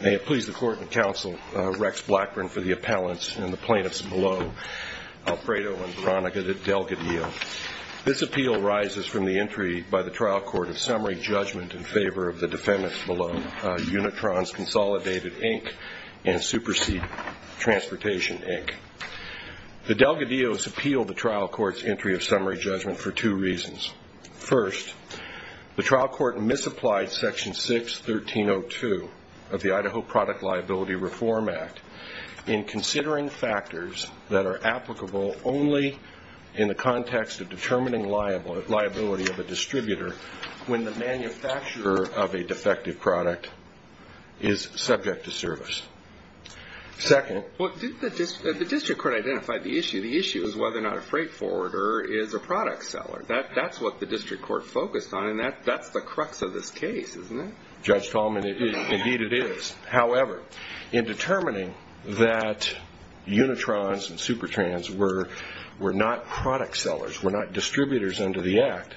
May it please the Court and Counsel, Rex Blackburn for the Appellants and the Plaintiffs below, Alfredo and Veronica Delgadillo. This appeal rises from the entry by the Trial Court of summary judgment in favor of the defendants below Unitrons Consolidated Inc and Supersede Transportation Inc. The Delgadillos appealed the Trial Court's entry of summary judgment for two reasons. First, the Trial Court misapplied Section 6.1302 of the Idaho Product Liability Reform Act in considering factors that are applicable only in the context of determining liability of a distributor when the manufacturer of a defective product is subject to service. Second, the District Court identified the issue. The issue is whether or not a freight forwarder is a product seller. That's what the District Court focused on and that's the crux of this case, isn't it? Judge Tallman, indeed it is. However, in determining that Unitrons and Supertrans were not product sellers, were not distributors under the Act,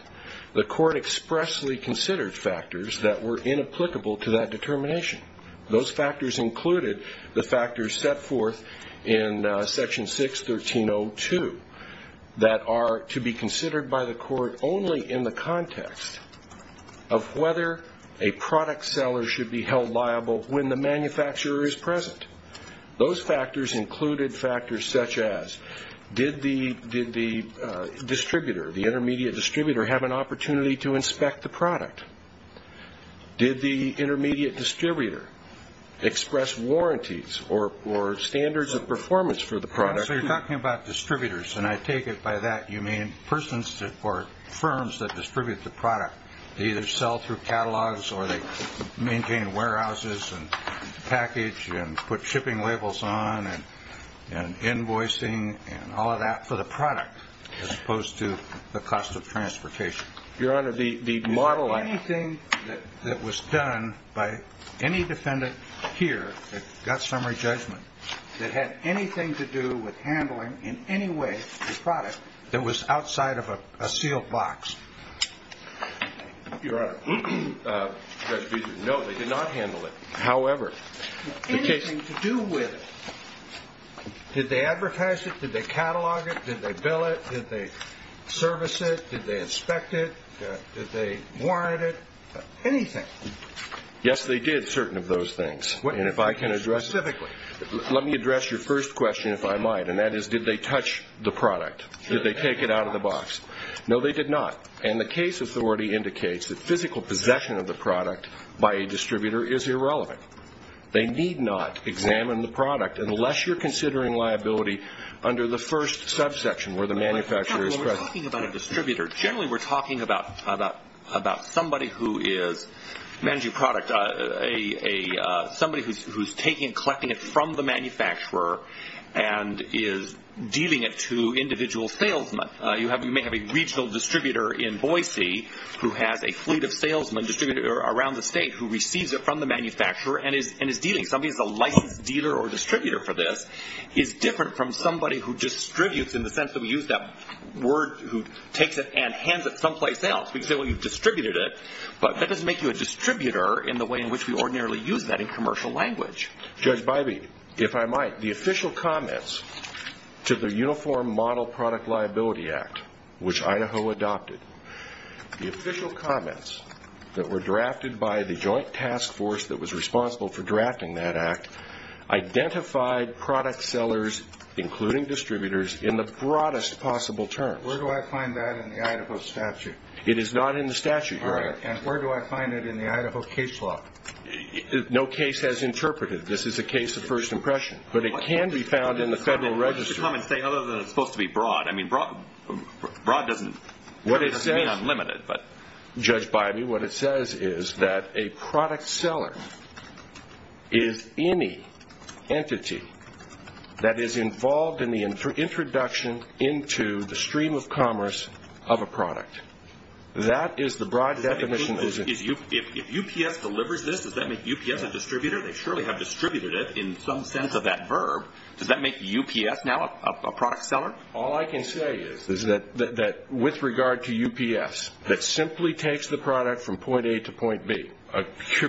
the Court expressly considered factors that were inapplicable to that determination. Those factors included the factors set forth in Section 6.1302 that are to be considered by the Court only in the context of whether a product seller should be held liable when the manufacturer is present. Those factors included factors such as did the distributor, the intermediate distributor, have an opportunity to inspect the product? Did the intermediate distributor express warranties or standards of performance for the product? So you're talking about distributors and I take it by that you mean persons or firms that distribute the product. They either sell through catalogs or they maintain warehouses and package and put shipping labels on and invoicing and all of that for the product as opposed to the cost of transportation. Is there anything that was done by any defendant here that got summary judgment that had anything to do with handling in any way the product that was outside of a sealed box? Your Honor, no, they did not handle it. However, anything to do with it. Did they advertise it? Did they catalog it? Did they bill it? Did they service it? Did they inspect it? Did they warrant it? Anything. Yes, they did certain of those things and if I can address it. Let me address your first question if I might and that is did they touch the product? Did they take it out of the box? No, they did not and the case authority indicates that physical possession of the product by a distributor is irrelevant. They need not examine the product unless you're considering liability under the first subsection where the manufacturer is present. When we're talking about a distributor, generally we're talking about somebody who is managing a product. Somebody who's taking and collecting it from the manufacturer and is dealing it to individual salesmen. You may have a regional distributor in Boise who has a fleet of salesmen distributed around the state who receives it from the manufacturer and is dealing. Somebody who is a licensed dealer or distributor for this is different from somebody who distributes in the sense that we use that word who takes it and hands it someplace else. We can say, well, you've distributed it, but that doesn't make you a distributor in the way in which we ordinarily use that in commercial language. Judge Bybee, if I might, the official comments to the Uniform Model Product Liability Act, which Idaho adopted, the official comments that were drafted by the joint task force that was responsible for drafting that act identified product sellers, including distributors, in the broadest possible terms. Where do I find that in the Idaho statute? It is not in the statute, Your Honor. And where do I find it in the Idaho case law? No case has interpreted it. This is a case of first impression. But it can be found in the federal register. What does the comment say other than it's supposed to be broad? I mean, broad doesn't mean unlimited. Judge Bybee, what it says is that a product seller is any entity that is involved in the introduction into the stream of commerce of a product. That is the broad definition. If UPS delivers this, does that make UPS a distributor? They surely have distributed it in some sense of that verb. Does that make UPS now a product seller? All I can say is that with regard to UPS, that simply takes the product from point A to point B, a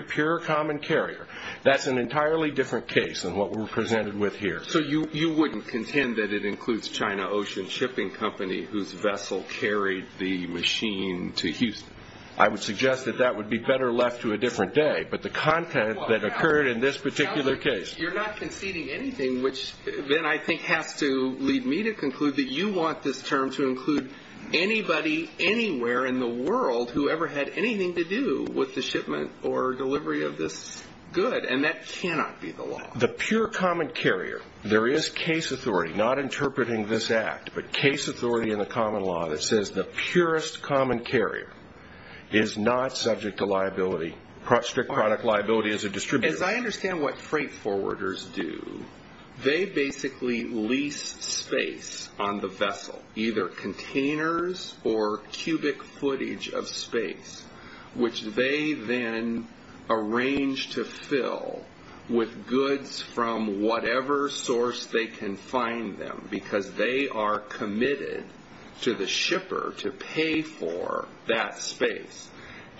pure common carrier, that's an entirely different case than what we're presented with here. So you wouldn't contend that it includes China Ocean Shipping Company, whose vessel carried the machine to Houston? I would suggest that that would be better left to a different day. But the content that occurred in this particular case… You want this term to include anybody anywhere in the world who ever had anything to do with the shipment or delivery of this good, and that cannot be the law. The pure common carrier, there is case authority, not interpreting this act, but case authority in the common law that says the purest common carrier is not subject to liability, strict product liability as a distributor. As I understand what freight forwarders do, they basically lease space on the vessel, either containers or cubic footage of space, which they then arrange to fill with goods from whatever source they can find them, because they are committed to the shipper to pay for that space.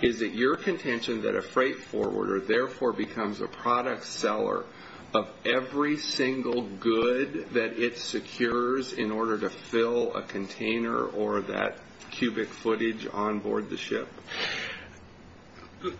Is it your contention that a freight forwarder therefore becomes a product seller of every single good that it secures in order to fill a container or that cubic footage onboard the ship?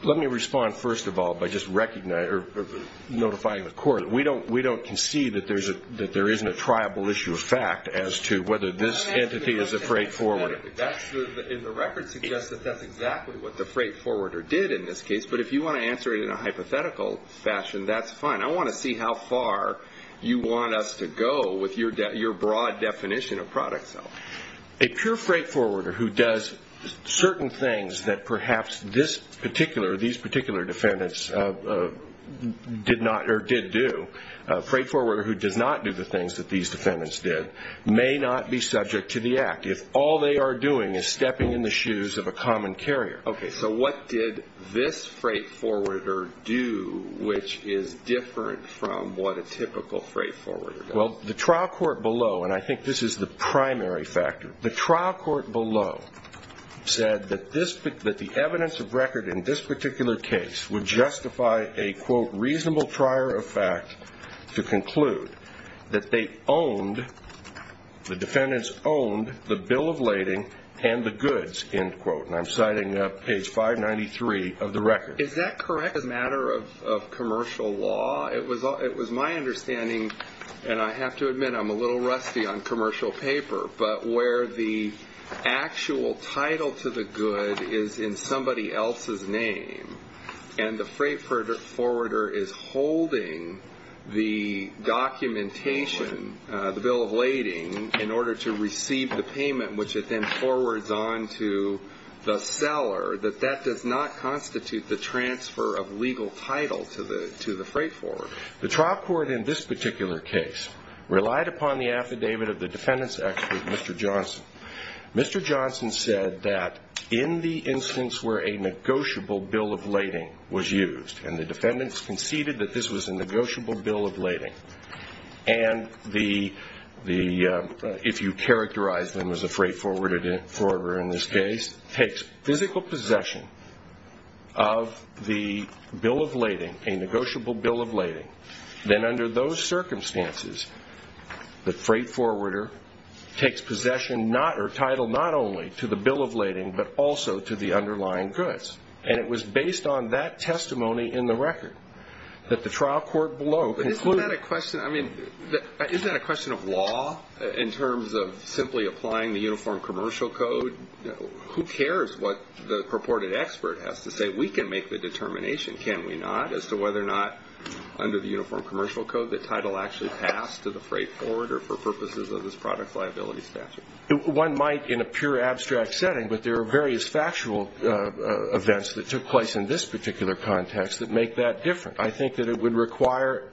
Let me respond first of all by just notifying the court. We don't concede that there isn't a triable issue of fact as to whether this entity is a freight forwarder. The record suggests that that's exactly what the freight forwarder did in this case, but if you want to answer it in a hypothetical fashion, that's fine. I want to see how far you want us to go with your broad definition of product selling. A pure freight forwarder who does certain things that perhaps these particular defendants did do, a freight forwarder who does not do the things that these defendants did, may not be subject to the act if all they are doing is stepping in the shoes of a common carrier. Okay, so what did this freight forwarder do which is different from what a typical freight forwarder does? Well, the trial court below, and I think this is the primary factor, the trial court below said that the evidence of record in this particular case would justify a, quote, reasonable trier of fact to conclude that the defendants owned the bill of lading and the goods, end quote, and I'm citing page 593 of the record. Is that correct as a matter of commercial law? The trial court in this particular case relied upon the affidavit of the defendant's expert, Mr. Johnson. Mr. Johnson said that in the instance where a negotiable bill of lading was used, and the defendants conceded that this was a negotiable bill of lading, and the, if you characterize them as a freight forwarder in this case, takes physical possession of the bill of lading, a negotiable bill of lading, then under those circumstances, the freight forwarder takes possession not, or title not only to the bill of lading but also to the underlying goods. And it was based on that testimony in the record that the trial court below concluded. But isn't that a question, I mean, isn't that a question of law in terms of simply applying the uniform commercial code? Who cares what the purported expert has to say? We can make the determination, can we not, as to whether or not under the uniform commercial code the title actually passed to the freight forwarder for purposes of this product liability statute? One might in a pure abstract setting, but there are various factual events that took place in this particular context that make that different. I think that it would require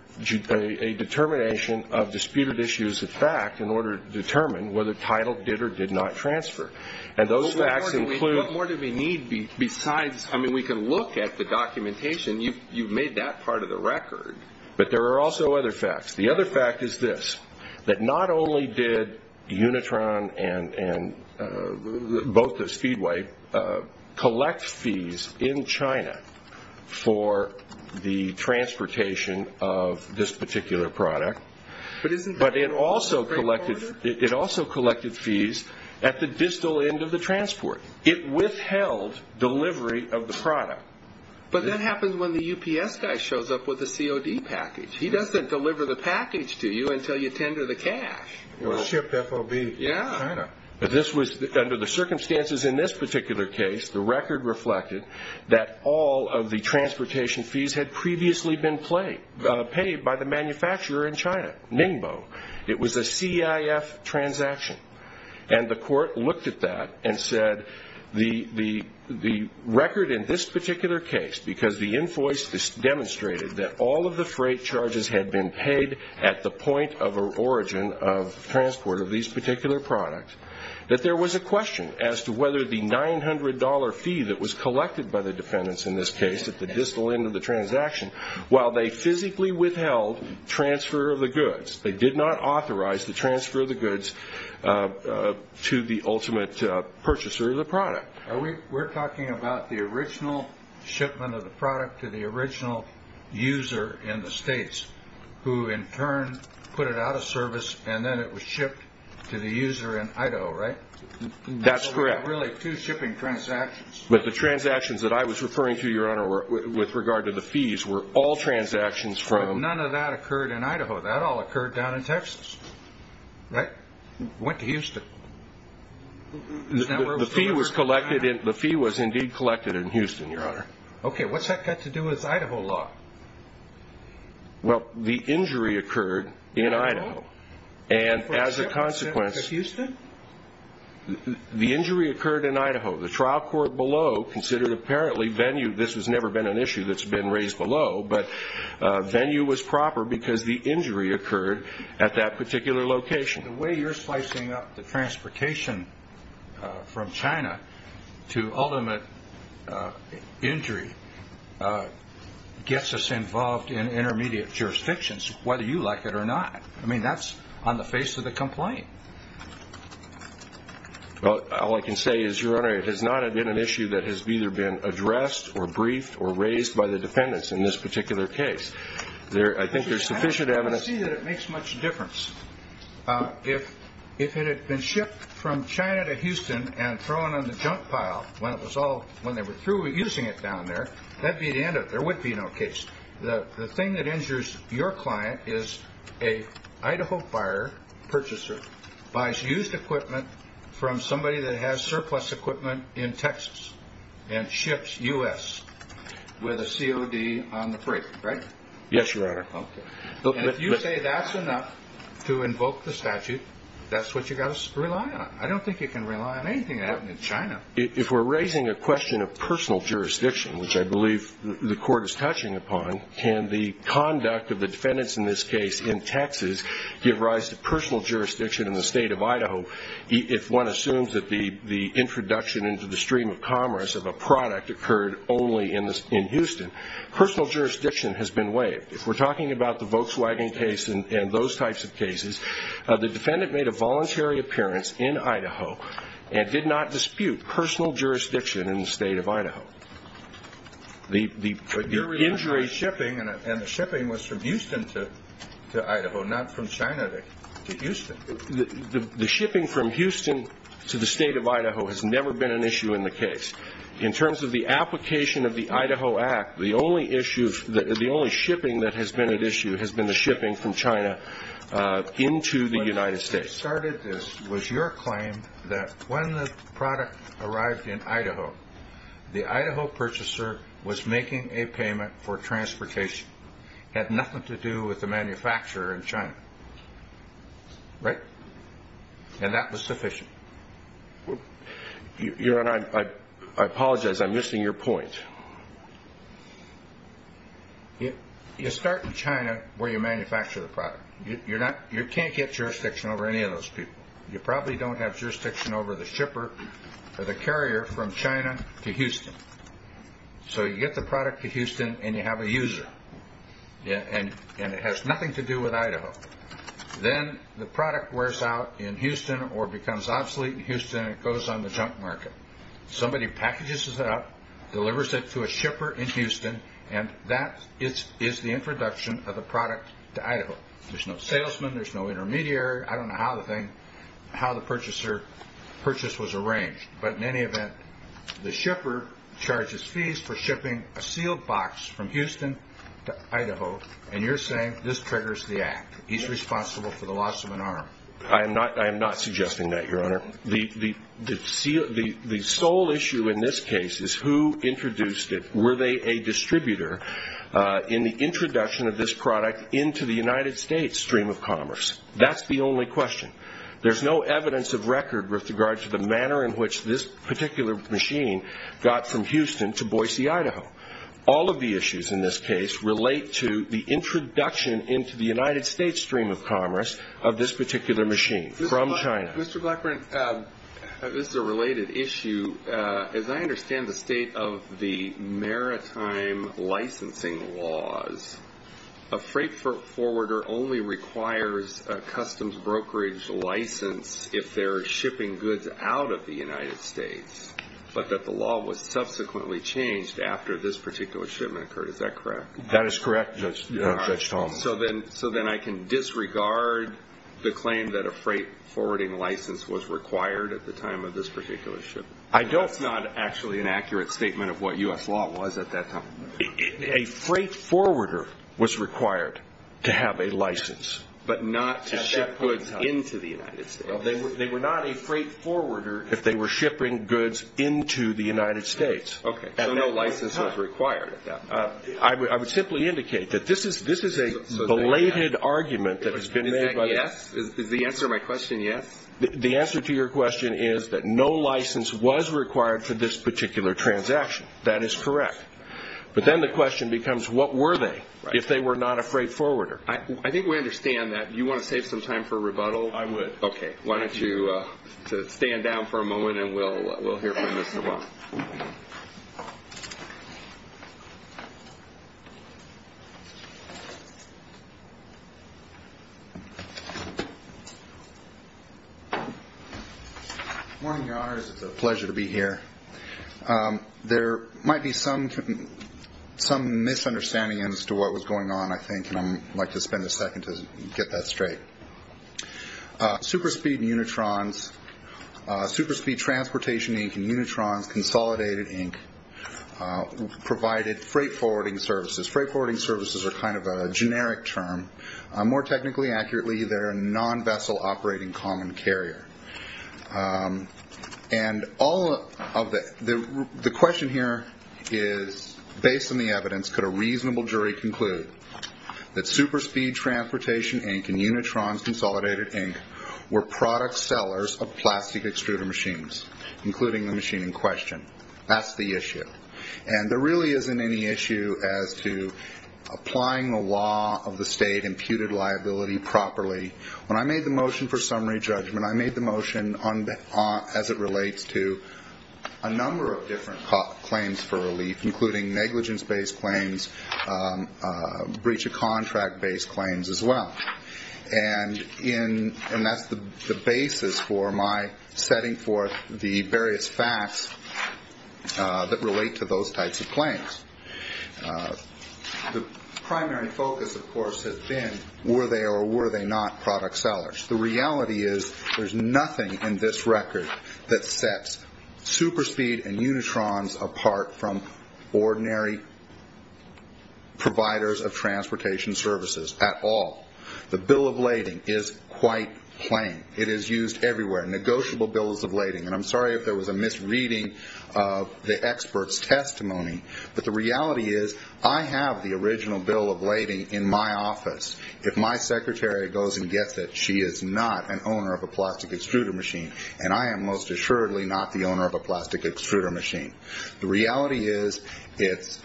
a determination of disputed issues of fact in order to determine whether title did or did not transfer. And those facts include. What more do we need besides, I mean, we can look at the documentation. You've made that part of the record. But there are also other facts. The other fact is this, that not only did Unitron and both the Speedway collect fees in China for the transportation of this particular product. But it also collected fees at the distal end of the transport. It withheld delivery of the product. But that happens when the UPS guy shows up with a COD package. He doesn't deliver the package to you until you tender the cash. Or ship FOB in China. Yeah. This was under the circumstances in this particular case. The record reflected that all of the transportation fees had previously been paid by the manufacturer in China, Ningbo. It was a CIF transaction. And the court looked at that and said the record in this particular case, because the invoice demonstrated that all of the freight charges had been paid at the point of origin of transport of these particular products, that there was a question as to whether the $900 fee that was collected by the dependents in this case at the distal end of the transaction, while they physically withheld transfer of the goods. They did not authorize the transfer of the goods to the ultimate purchaser of the product. We're talking about the original shipment of the product to the original user in the States, who in turn put it out of service and then it was shipped to the user in Idaho, right? That's correct. So there were really two shipping transactions. But the transactions that I was referring to, Your Honor, with regard to the fees, were all transactions from… But none of that occurred in Idaho. That all occurred down in Texas, right? Went to Houston. The fee was indeed collected in Houston, Your Honor. Okay. What's that got to do with Idaho law? Well, the injury occurred in Idaho. And as a consequence… For a shipment to Houston? The injury occurred in Idaho. The trial court below considered apparently venue. This has never been an issue that's been raised below. But venue was proper because the injury occurred at that particular location. The way you're slicing up the transportation from China to ultimate injury gets us involved in intermediate jurisdictions, whether you like it or not. I mean, that's on the face of the complaint. Well, all I can say is, Your Honor, it has not been an issue that has either been addressed or briefed or raised by the defendants in this particular case. I think there's sufficient evidence… I don't see that it makes much difference. If it had been shipped from China to Houston and thrown in the junk pile when they were using it down there, that would be the end of it. There would be no case. The thing that injures your client is an Idaho fire purchaser buys used equipment from somebody that has surplus equipment in Texas and ships U.S. with a COD on the freight, right? Yes, Your Honor. And if you say that's enough to invoke the statute, that's what you've got to rely on. I don't think you can rely on anything that happened in China. If we're raising a question of personal jurisdiction, which I believe the court is touching upon, can the conduct of the defendants in this case in Texas give rise to personal jurisdiction in the state of Idaho if one assumes that the introduction into the stream of commerce of a product occurred only in Houston? Personal jurisdiction has been waived. If we're talking about the Volkswagen case and those types of cases, the defendant made a voluntary appearance in Idaho and did not dispute personal jurisdiction in the state of Idaho. But you're referring to shipping, and the shipping was from Houston to Idaho, not from China to Houston. The shipping from Houston to the state of Idaho has never been an issue in the case. In terms of the application of the Idaho Act, the only shipping that has been an issue has been the shipping from China into the United States. But who started this was your claim that when the product arrived in Idaho, the Idaho purchaser was making a payment for transportation. It had nothing to do with the manufacturer in China, right? And that was sufficient. Your Honor, I apologize. I'm missing your point. You start in China where you manufacture the product. You can't get jurisdiction over any of those people. You probably don't have jurisdiction over the carrier from China to Houston. So you get the product to Houston, and you have a user, and it has nothing to do with Idaho. Then the product wears out in Houston or becomes obsolete in Houston, and it goes on the junk market. Somebody packages it up, delivers it to a shipper in Houston, and that is the introduction of the product to Idaho. There's no salesman. There's no intermediary. I don't know how the purchaser's purchase was arranged. But in any event, the shipper charges fees for shipping a sealed box from Houston to Idaho, and you're saying this triggers the act. He's responsible for the loss of an arm. I am not suggesting that, Your Honor. The sole issue in this case is who introduced it. Were they a distributor in the introduction of this product into the United States stream of commerce? That's the only question. There's no evidence of record with regard to the manner in which this particular machine got from Houston to Boise, Idaho. All of the issues in this case relate to the introduction into the United States stream of commerce of this particular machine from China. Mr. Blackburn, this is a related issue. As I understand the state of the maritime licensing laws, a freight forwarder only requires a customs brokerage license if they're shipping goods out of the United States, but that the law was subsequently changed after this particular shipment occurred. Is that correct? That is correct, Judge Thomas. So then I can disregard the claim that a freight forwarding license was required at the time of this particular shipment. That's not actually an accurate statement of what U.S. law was at that time. A freight forwarder was required to have a license. But not to ship goods into the United States. They were not a freight forwarder if they were shipping goods into the United States. Okay. So no license was required at that point. I would simply indicate that this is a belated argument that has been made. Is the answer to my question yes? The answer to your question is that no license was required for this particular transaction. That is correct. But then the question becomes what were they if they were not a freight forwarder? I think we understand that. Do you want to save some time for rebuttal? I would. Okay. Why don't you stand down for a moment and we'll hear from you as well. Good morning, Your Honors. It's a pleasure to be here. There might be some misunderstanding as to what was going on, I think, and I'd like to spend a second to get that straight. Superspeed and Unitrons, Superspeed Transportation Inc. and Unitrons, Consolidated Inc. provided freight forwarding services. Freight forwarding services are kind of a generic term. More technically accurately, they're a non-vessel operating common carrier. And the question here is, based on the evidence, could a reasonable jury conclude that Superspeed Transportation Inc. and Unitrons, Consolidated Inc. were product sellers of plastic extruder machines, including the machine in question? That's the issue. And there really isn't any issue as to applying the law of the state imputed liability properly. When I made the motion for summary judgment, I made the motion as it relates to a number of different claims for relief, including negligence-based claims, breach-of-contract-based claims as well. And that's the basis for my setting forth the various facts that relate to those types of claims. The primary focus, of course, has been were they or were they not product sellers. The reality is there's nothing in this record that sets Superspeed and Unitrons apart from ordinary providers of transportation services at all. The bill of lading is quite plain. It is used everywhere, negotiable bills of lading. And I'm sorry if there was a misreading of the expert's testimony, but the reality is I have the original bill of lading in my office. If my secretary goes and gets it, she is not an owner of a plastic extruder machine, and I am most assuredly not the owner of a plastic extruder machine. The reality is it's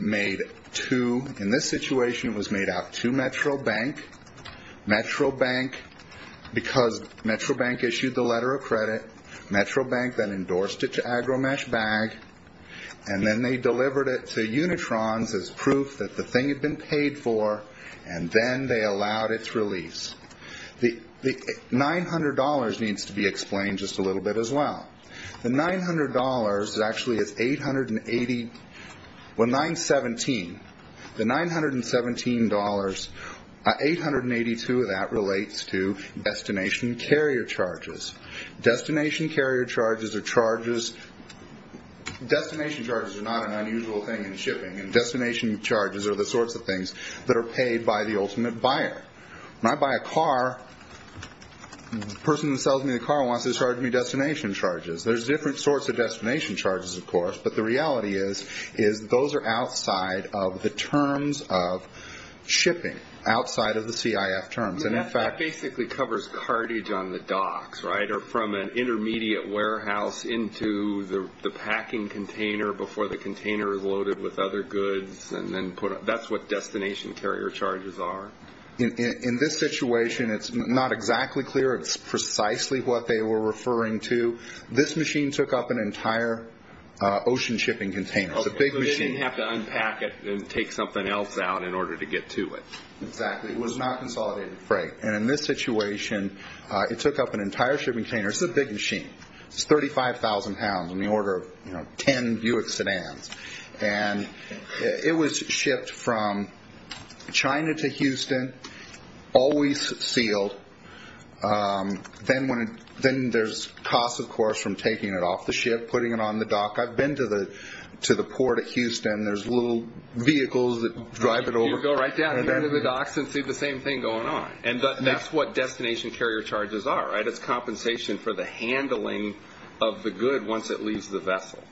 made to, in this situation, it was made out to Metro Bank. Metro Bank, because Metro Bank issued the letter of credit, Metro Bank then endorsed it to AgroMeshBag, and then they delivered it to Unitrons as proof that the thing had been paid for, and then they allowed its release. The $900 needs to be explained just a little bit as well. The $900 actually is 880, well, 917. The $917, 882 of that relates to destination carrier charges. Destination carrier charges are charges. Destination charges are not an unusual thing in shipping, and destination charges are the sorts of things that are paid by the ultimate buyer. When I buy a car, the person who sells me the car wants to charge me destination charges. There's different sorts of destination charges, of course, but the reality is those are outside of the terms of shipping, outside of the CIF terms. That basically covers cartage on the docks, right, or from an intermediate warehouse into the packing container before the container is loaded with other goods. That's what destination carrier charges are. In this situation, it's not exactly clear. It's precisely what they were referring to. This machine took up an entire ocean shipping container. So they didn't have to unpack it and take something else out in order to get to it. Exactly. It was not consolidated freight. In this situation, it took up an entire shipping container. It's a big machine. It's 35,000 pounds on the order of 10 Buick sedans. It was shipped from China to Houston, always sealed. Then there's costs, of course, from taking it off the ship, putting it on the dock. I've been to the port at Houston. There's little vehicles that drive it over. People go right down here to the docks and see the same thing going on. That's what destination carrier charges are. It's compensation for the handling of the good once it leaves the vessel.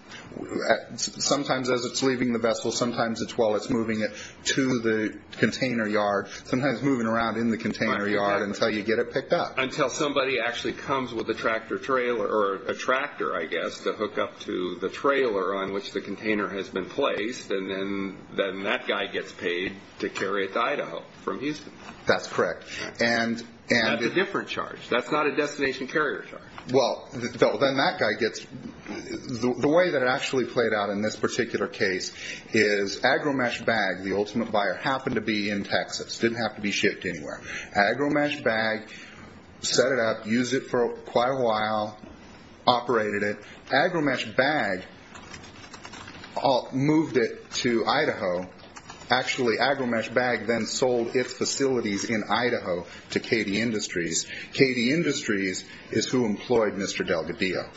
Sometimes as it's leaving the vessel, sometimes it's while it's moving it to the container yard, sometimes moving around in the container yard until you get it picked up. Until somebody actually comes with a tractor, I guess, to hook up to the trailer on which the container has been placed. Then that guy gets paid to carry it to Idaho from Houston. That's correct. That's a different charge. That's not a destination carrier charge. The way that it actually played out in this particular case is AgriMesh Bag, the ultimate buyer, happened to be in Texas. It didn't have to be shipped anywhere. AgriMesh Bag set it up, used it for quite a while, operated it. AgriMesh Bag moved it to Idaho. Actually, AgriMesh Bag then sold its facilities in Idaho to KD Industries. KD Industries is who employed Mr. Delgadillo.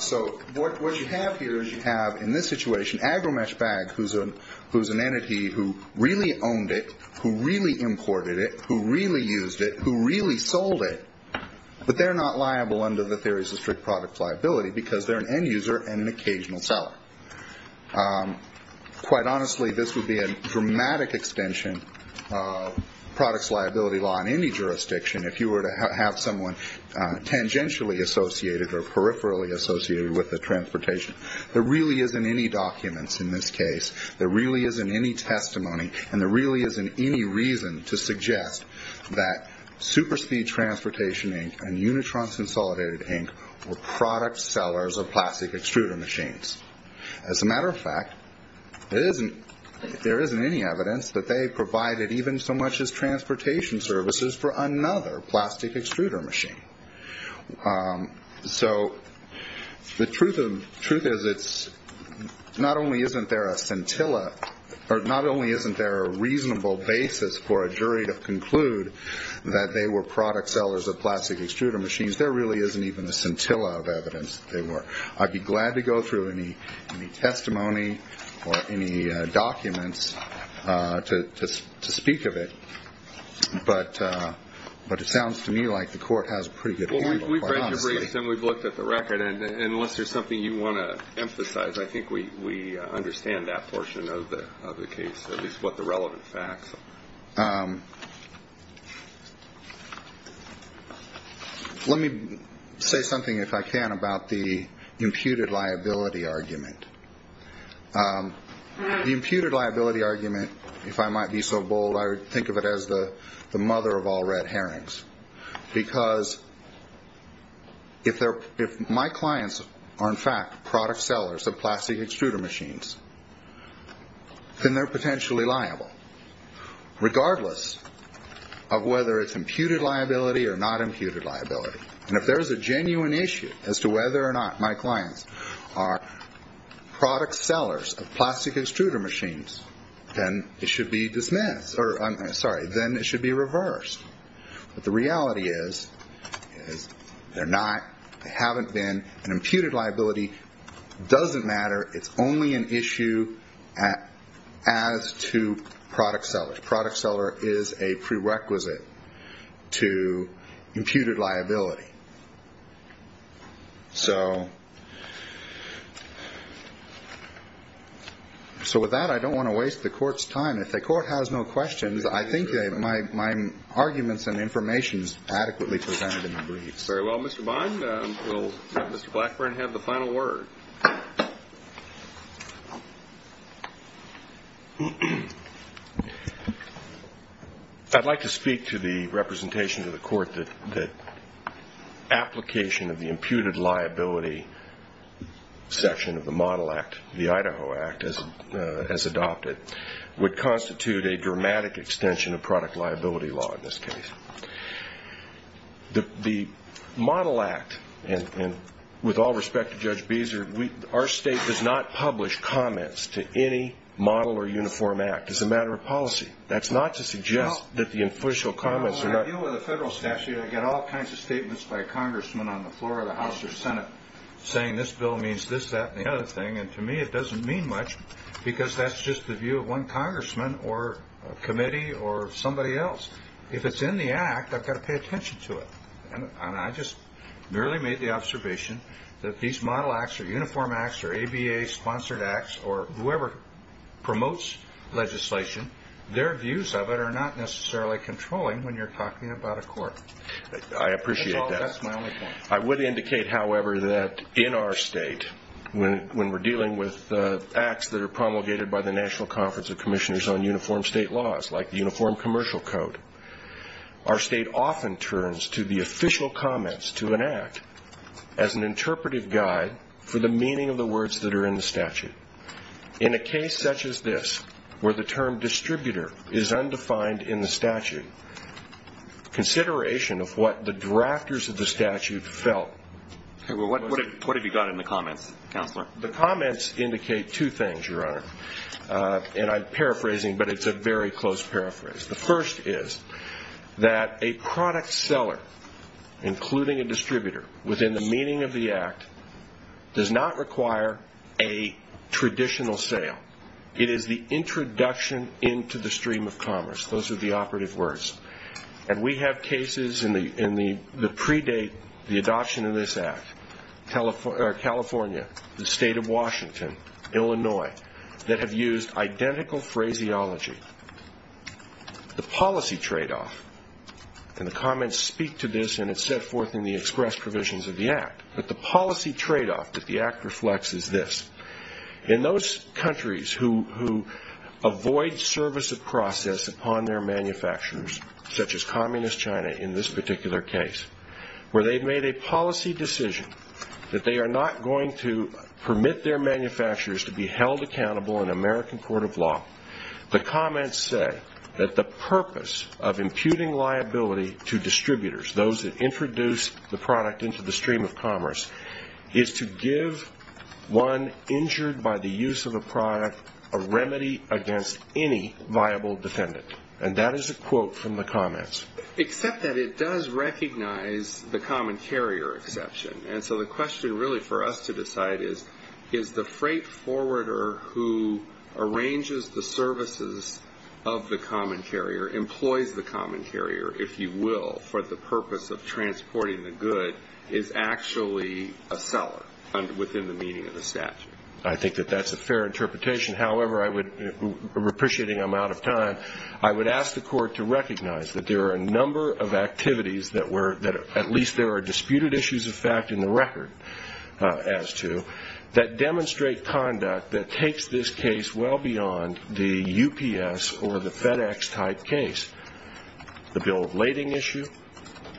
So what you have here is you have, in this situation, AgriMesh Bag, who's an entity who really owned it, who really imported it, who really used it, who really sold it, but they're not liable under the theories of strict product liability because they're an end user and an occasional seller. Quite honestly, this would be a dramatic extension of products liability law in any jurisdiction if you were to have someone tangentially associated or peripherally associated with the transportation. There really isn't any documents in this case. There really isn't any testimony, and there really isn't any reason to suggest that Superspeed Transportation, Inc. and Unitrons Consolidated, Inc. were product sellers of plastic extruder machines. As a matter of fact, there isn't any evidence that they provided even so much as transportation services for another plastic extruder machine. So the truth is, not only isn't there a reasonable basis for a jury to conclude that they were product sellers of plastic extruder machines, there really isn't even a scintilla of evidence that they were. I'd be glad to go through any testimony or any documents to speak of it, but it sounds to me like the court has a pretty good view, quite honestly. Well, we've read the briefs and we've looked at the record, and unless there's something you want to emphasize, I think we understand that portion of the case, at least what the relevant facts are. Let me say something, if I can, about the imputed liability argument. The imputed liability argument, if I might be so bold, I would think of it as the mother of all red herrings, because if my clients are in fact product sellers of plastic extruder machines, then they're potentially liable, regardless of whether it's imputed liability or not imputed liability. And if there's a genuine issue as to whether or not my clients are product sellers of plastic extruder machines, then it should be reversed. But the reality is they're not, they haven't been, and imputed liability doesn't matter. It's only an issue as to product sellers. Product seller is a prerequisite to imputed liability. So with that, I don't want to waste the court's time. If the court has no questions, I think my arguments and information is adequately presented in the briefs. Very well, Mr. Bond, we'll let Mr. Blackburn have the final word. Thank you. I'd like to speak to the representation to the court that application of the imputed liability section of the Model Act, the Idaho Act as adopted, would constitute a dramatic extension of product liability law in this case. The Model Act, and with all respect to Judge Beeser, our state does not publish comments to any model or uniform act. It's a matter of policy. That's not to suggest that the influential comments are not. Well, when I deal with a federal statute, I get all kinds of statements by a congressman on the floor of the House or Senate saying this bill means this, that, and the other thing. And to me, it doesn't mean much because that's just the view of one congressman or committee or somebody else. If it's in the act, I've got to pay attention to it. And I just merely made the observation that these Model Acts or Uniform Acts or ABA-sponsored acts or whoever promotes legislation, their views of it are not necessarily controlling when you're talking about a court. I appreciate that. That's my only point. I would indicate, however, that in our state, when we're dealing with acts that are promulgated by the National Conference of Commissioners on Uniform State Laws, like the Uniform Commercial Code, our state often turns to the official comments to an act as an interpretive guide for the meaning of the words that are in the statute. In a case such as this, where the term distributor is undefined in the statute, consideration of what the drafters of the statute felt. What have you got in the comments, Counselor? The comments indicate two things, Your Honor. And I'm paraphrasing, but it's a very close paraphrase. The first is that a product seller, including a distributor, within the meaning of the act, does not require a traditional sale. It is the introduction into the stream of commerce. Those are the operative words. And we have cases that predate the adoption of this act, California, the state of Washington, Illinois, that have used identical phraseology. The policy tradeoff, and the comments speak to this, and it's set forth in the express provisions of the act, but the policy tradeoff that the act reflects is this. In those countries who avoid service of process upon their manufacturers, such as communist China in this particular case, where they've made a policy decision that they are not going to permit their manufacturers to be held accountable in American court of law, the comments say that the purpose of imputing liability to distributors, those that introduce the product into the stream of commerce, is to give one injured by the use of a product a remedy against any viable defendant. And that is a quote from the comments. Except that it does recognize the common carrier exception. And so the question really for us to decide is, is the freight forwarder who arranges the services of the common carrier, employs the common carrier, if you will, for the purpose of transporting the good, is actually a seller within the meaning of the statute. I think that that's a fair interpretation. However, appreciating I'm out of time, I would ask the court to recognize that there are a number of activities, at least there are disputed issues of fact in the record as to, that demonstrate conduct that takes this case well beyond the UPS or the FedEx type case. The bill of lading issue,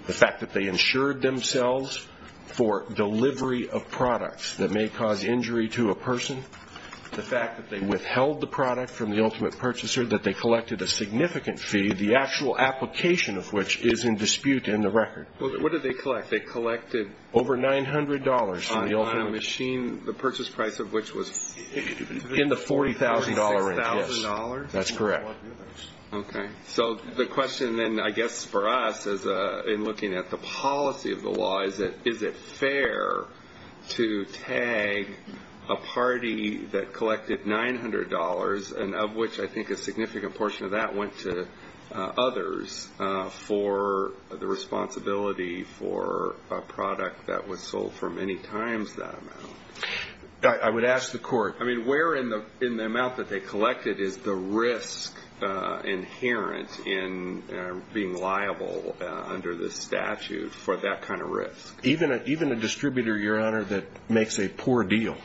the fact that they insured themselves for delivery of products that may cause injury to a person, the fact that they withheld the product from the ultimate purchaser, that they collected a significant fee, the actual application of which is in dispute in the record. What did they collect? They collected over $900 on a machine, the purchase price of which was in the $40,000 range. That's correct. Okay. So the question then I guess for us in looking at the policy of the law is, is it fair to tag a party that collected $900, and of which I think a significant portion of that went to others, for the responsibility for a product that was sold for many times that amount? I would ask the court. I mean, where in the amount that they collected is the risk inherent in being liable under the statute for that kind of risk? Even a distributor, Your Honor, that makes a poor deal,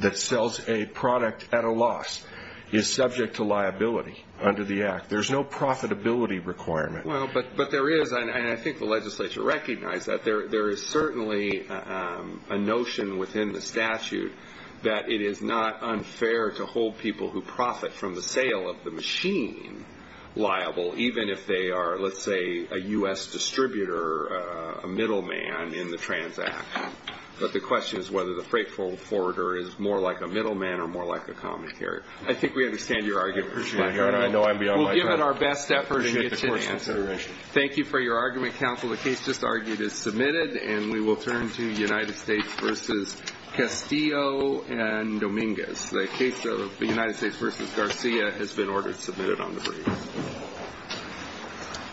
that sells a product at a loss, is subject to liability under the Act. There's no profitability requirement. Well, but there is, and I think the legislature recognized that. There is certainly a notion within the statute that it is not unfair to hold people who profit from the sale of the machine liable, even if they are, let's say, a U.S. distributor, a middleman in the transaction. But the question is whether the freight forwarder is more like a middleman or more like a common carrier. I think we understand your argument, Your Honor. I know I'm beyond my time. We'll give it our best effort and get to the answer. I appreciate the court's consideration. Thank you for your argument, counsel. The case just argued is submitted, and we will turn to United States v. Castillo and Dominguez. The case of the United States v. Garcia has been ordered and submitted on the brief.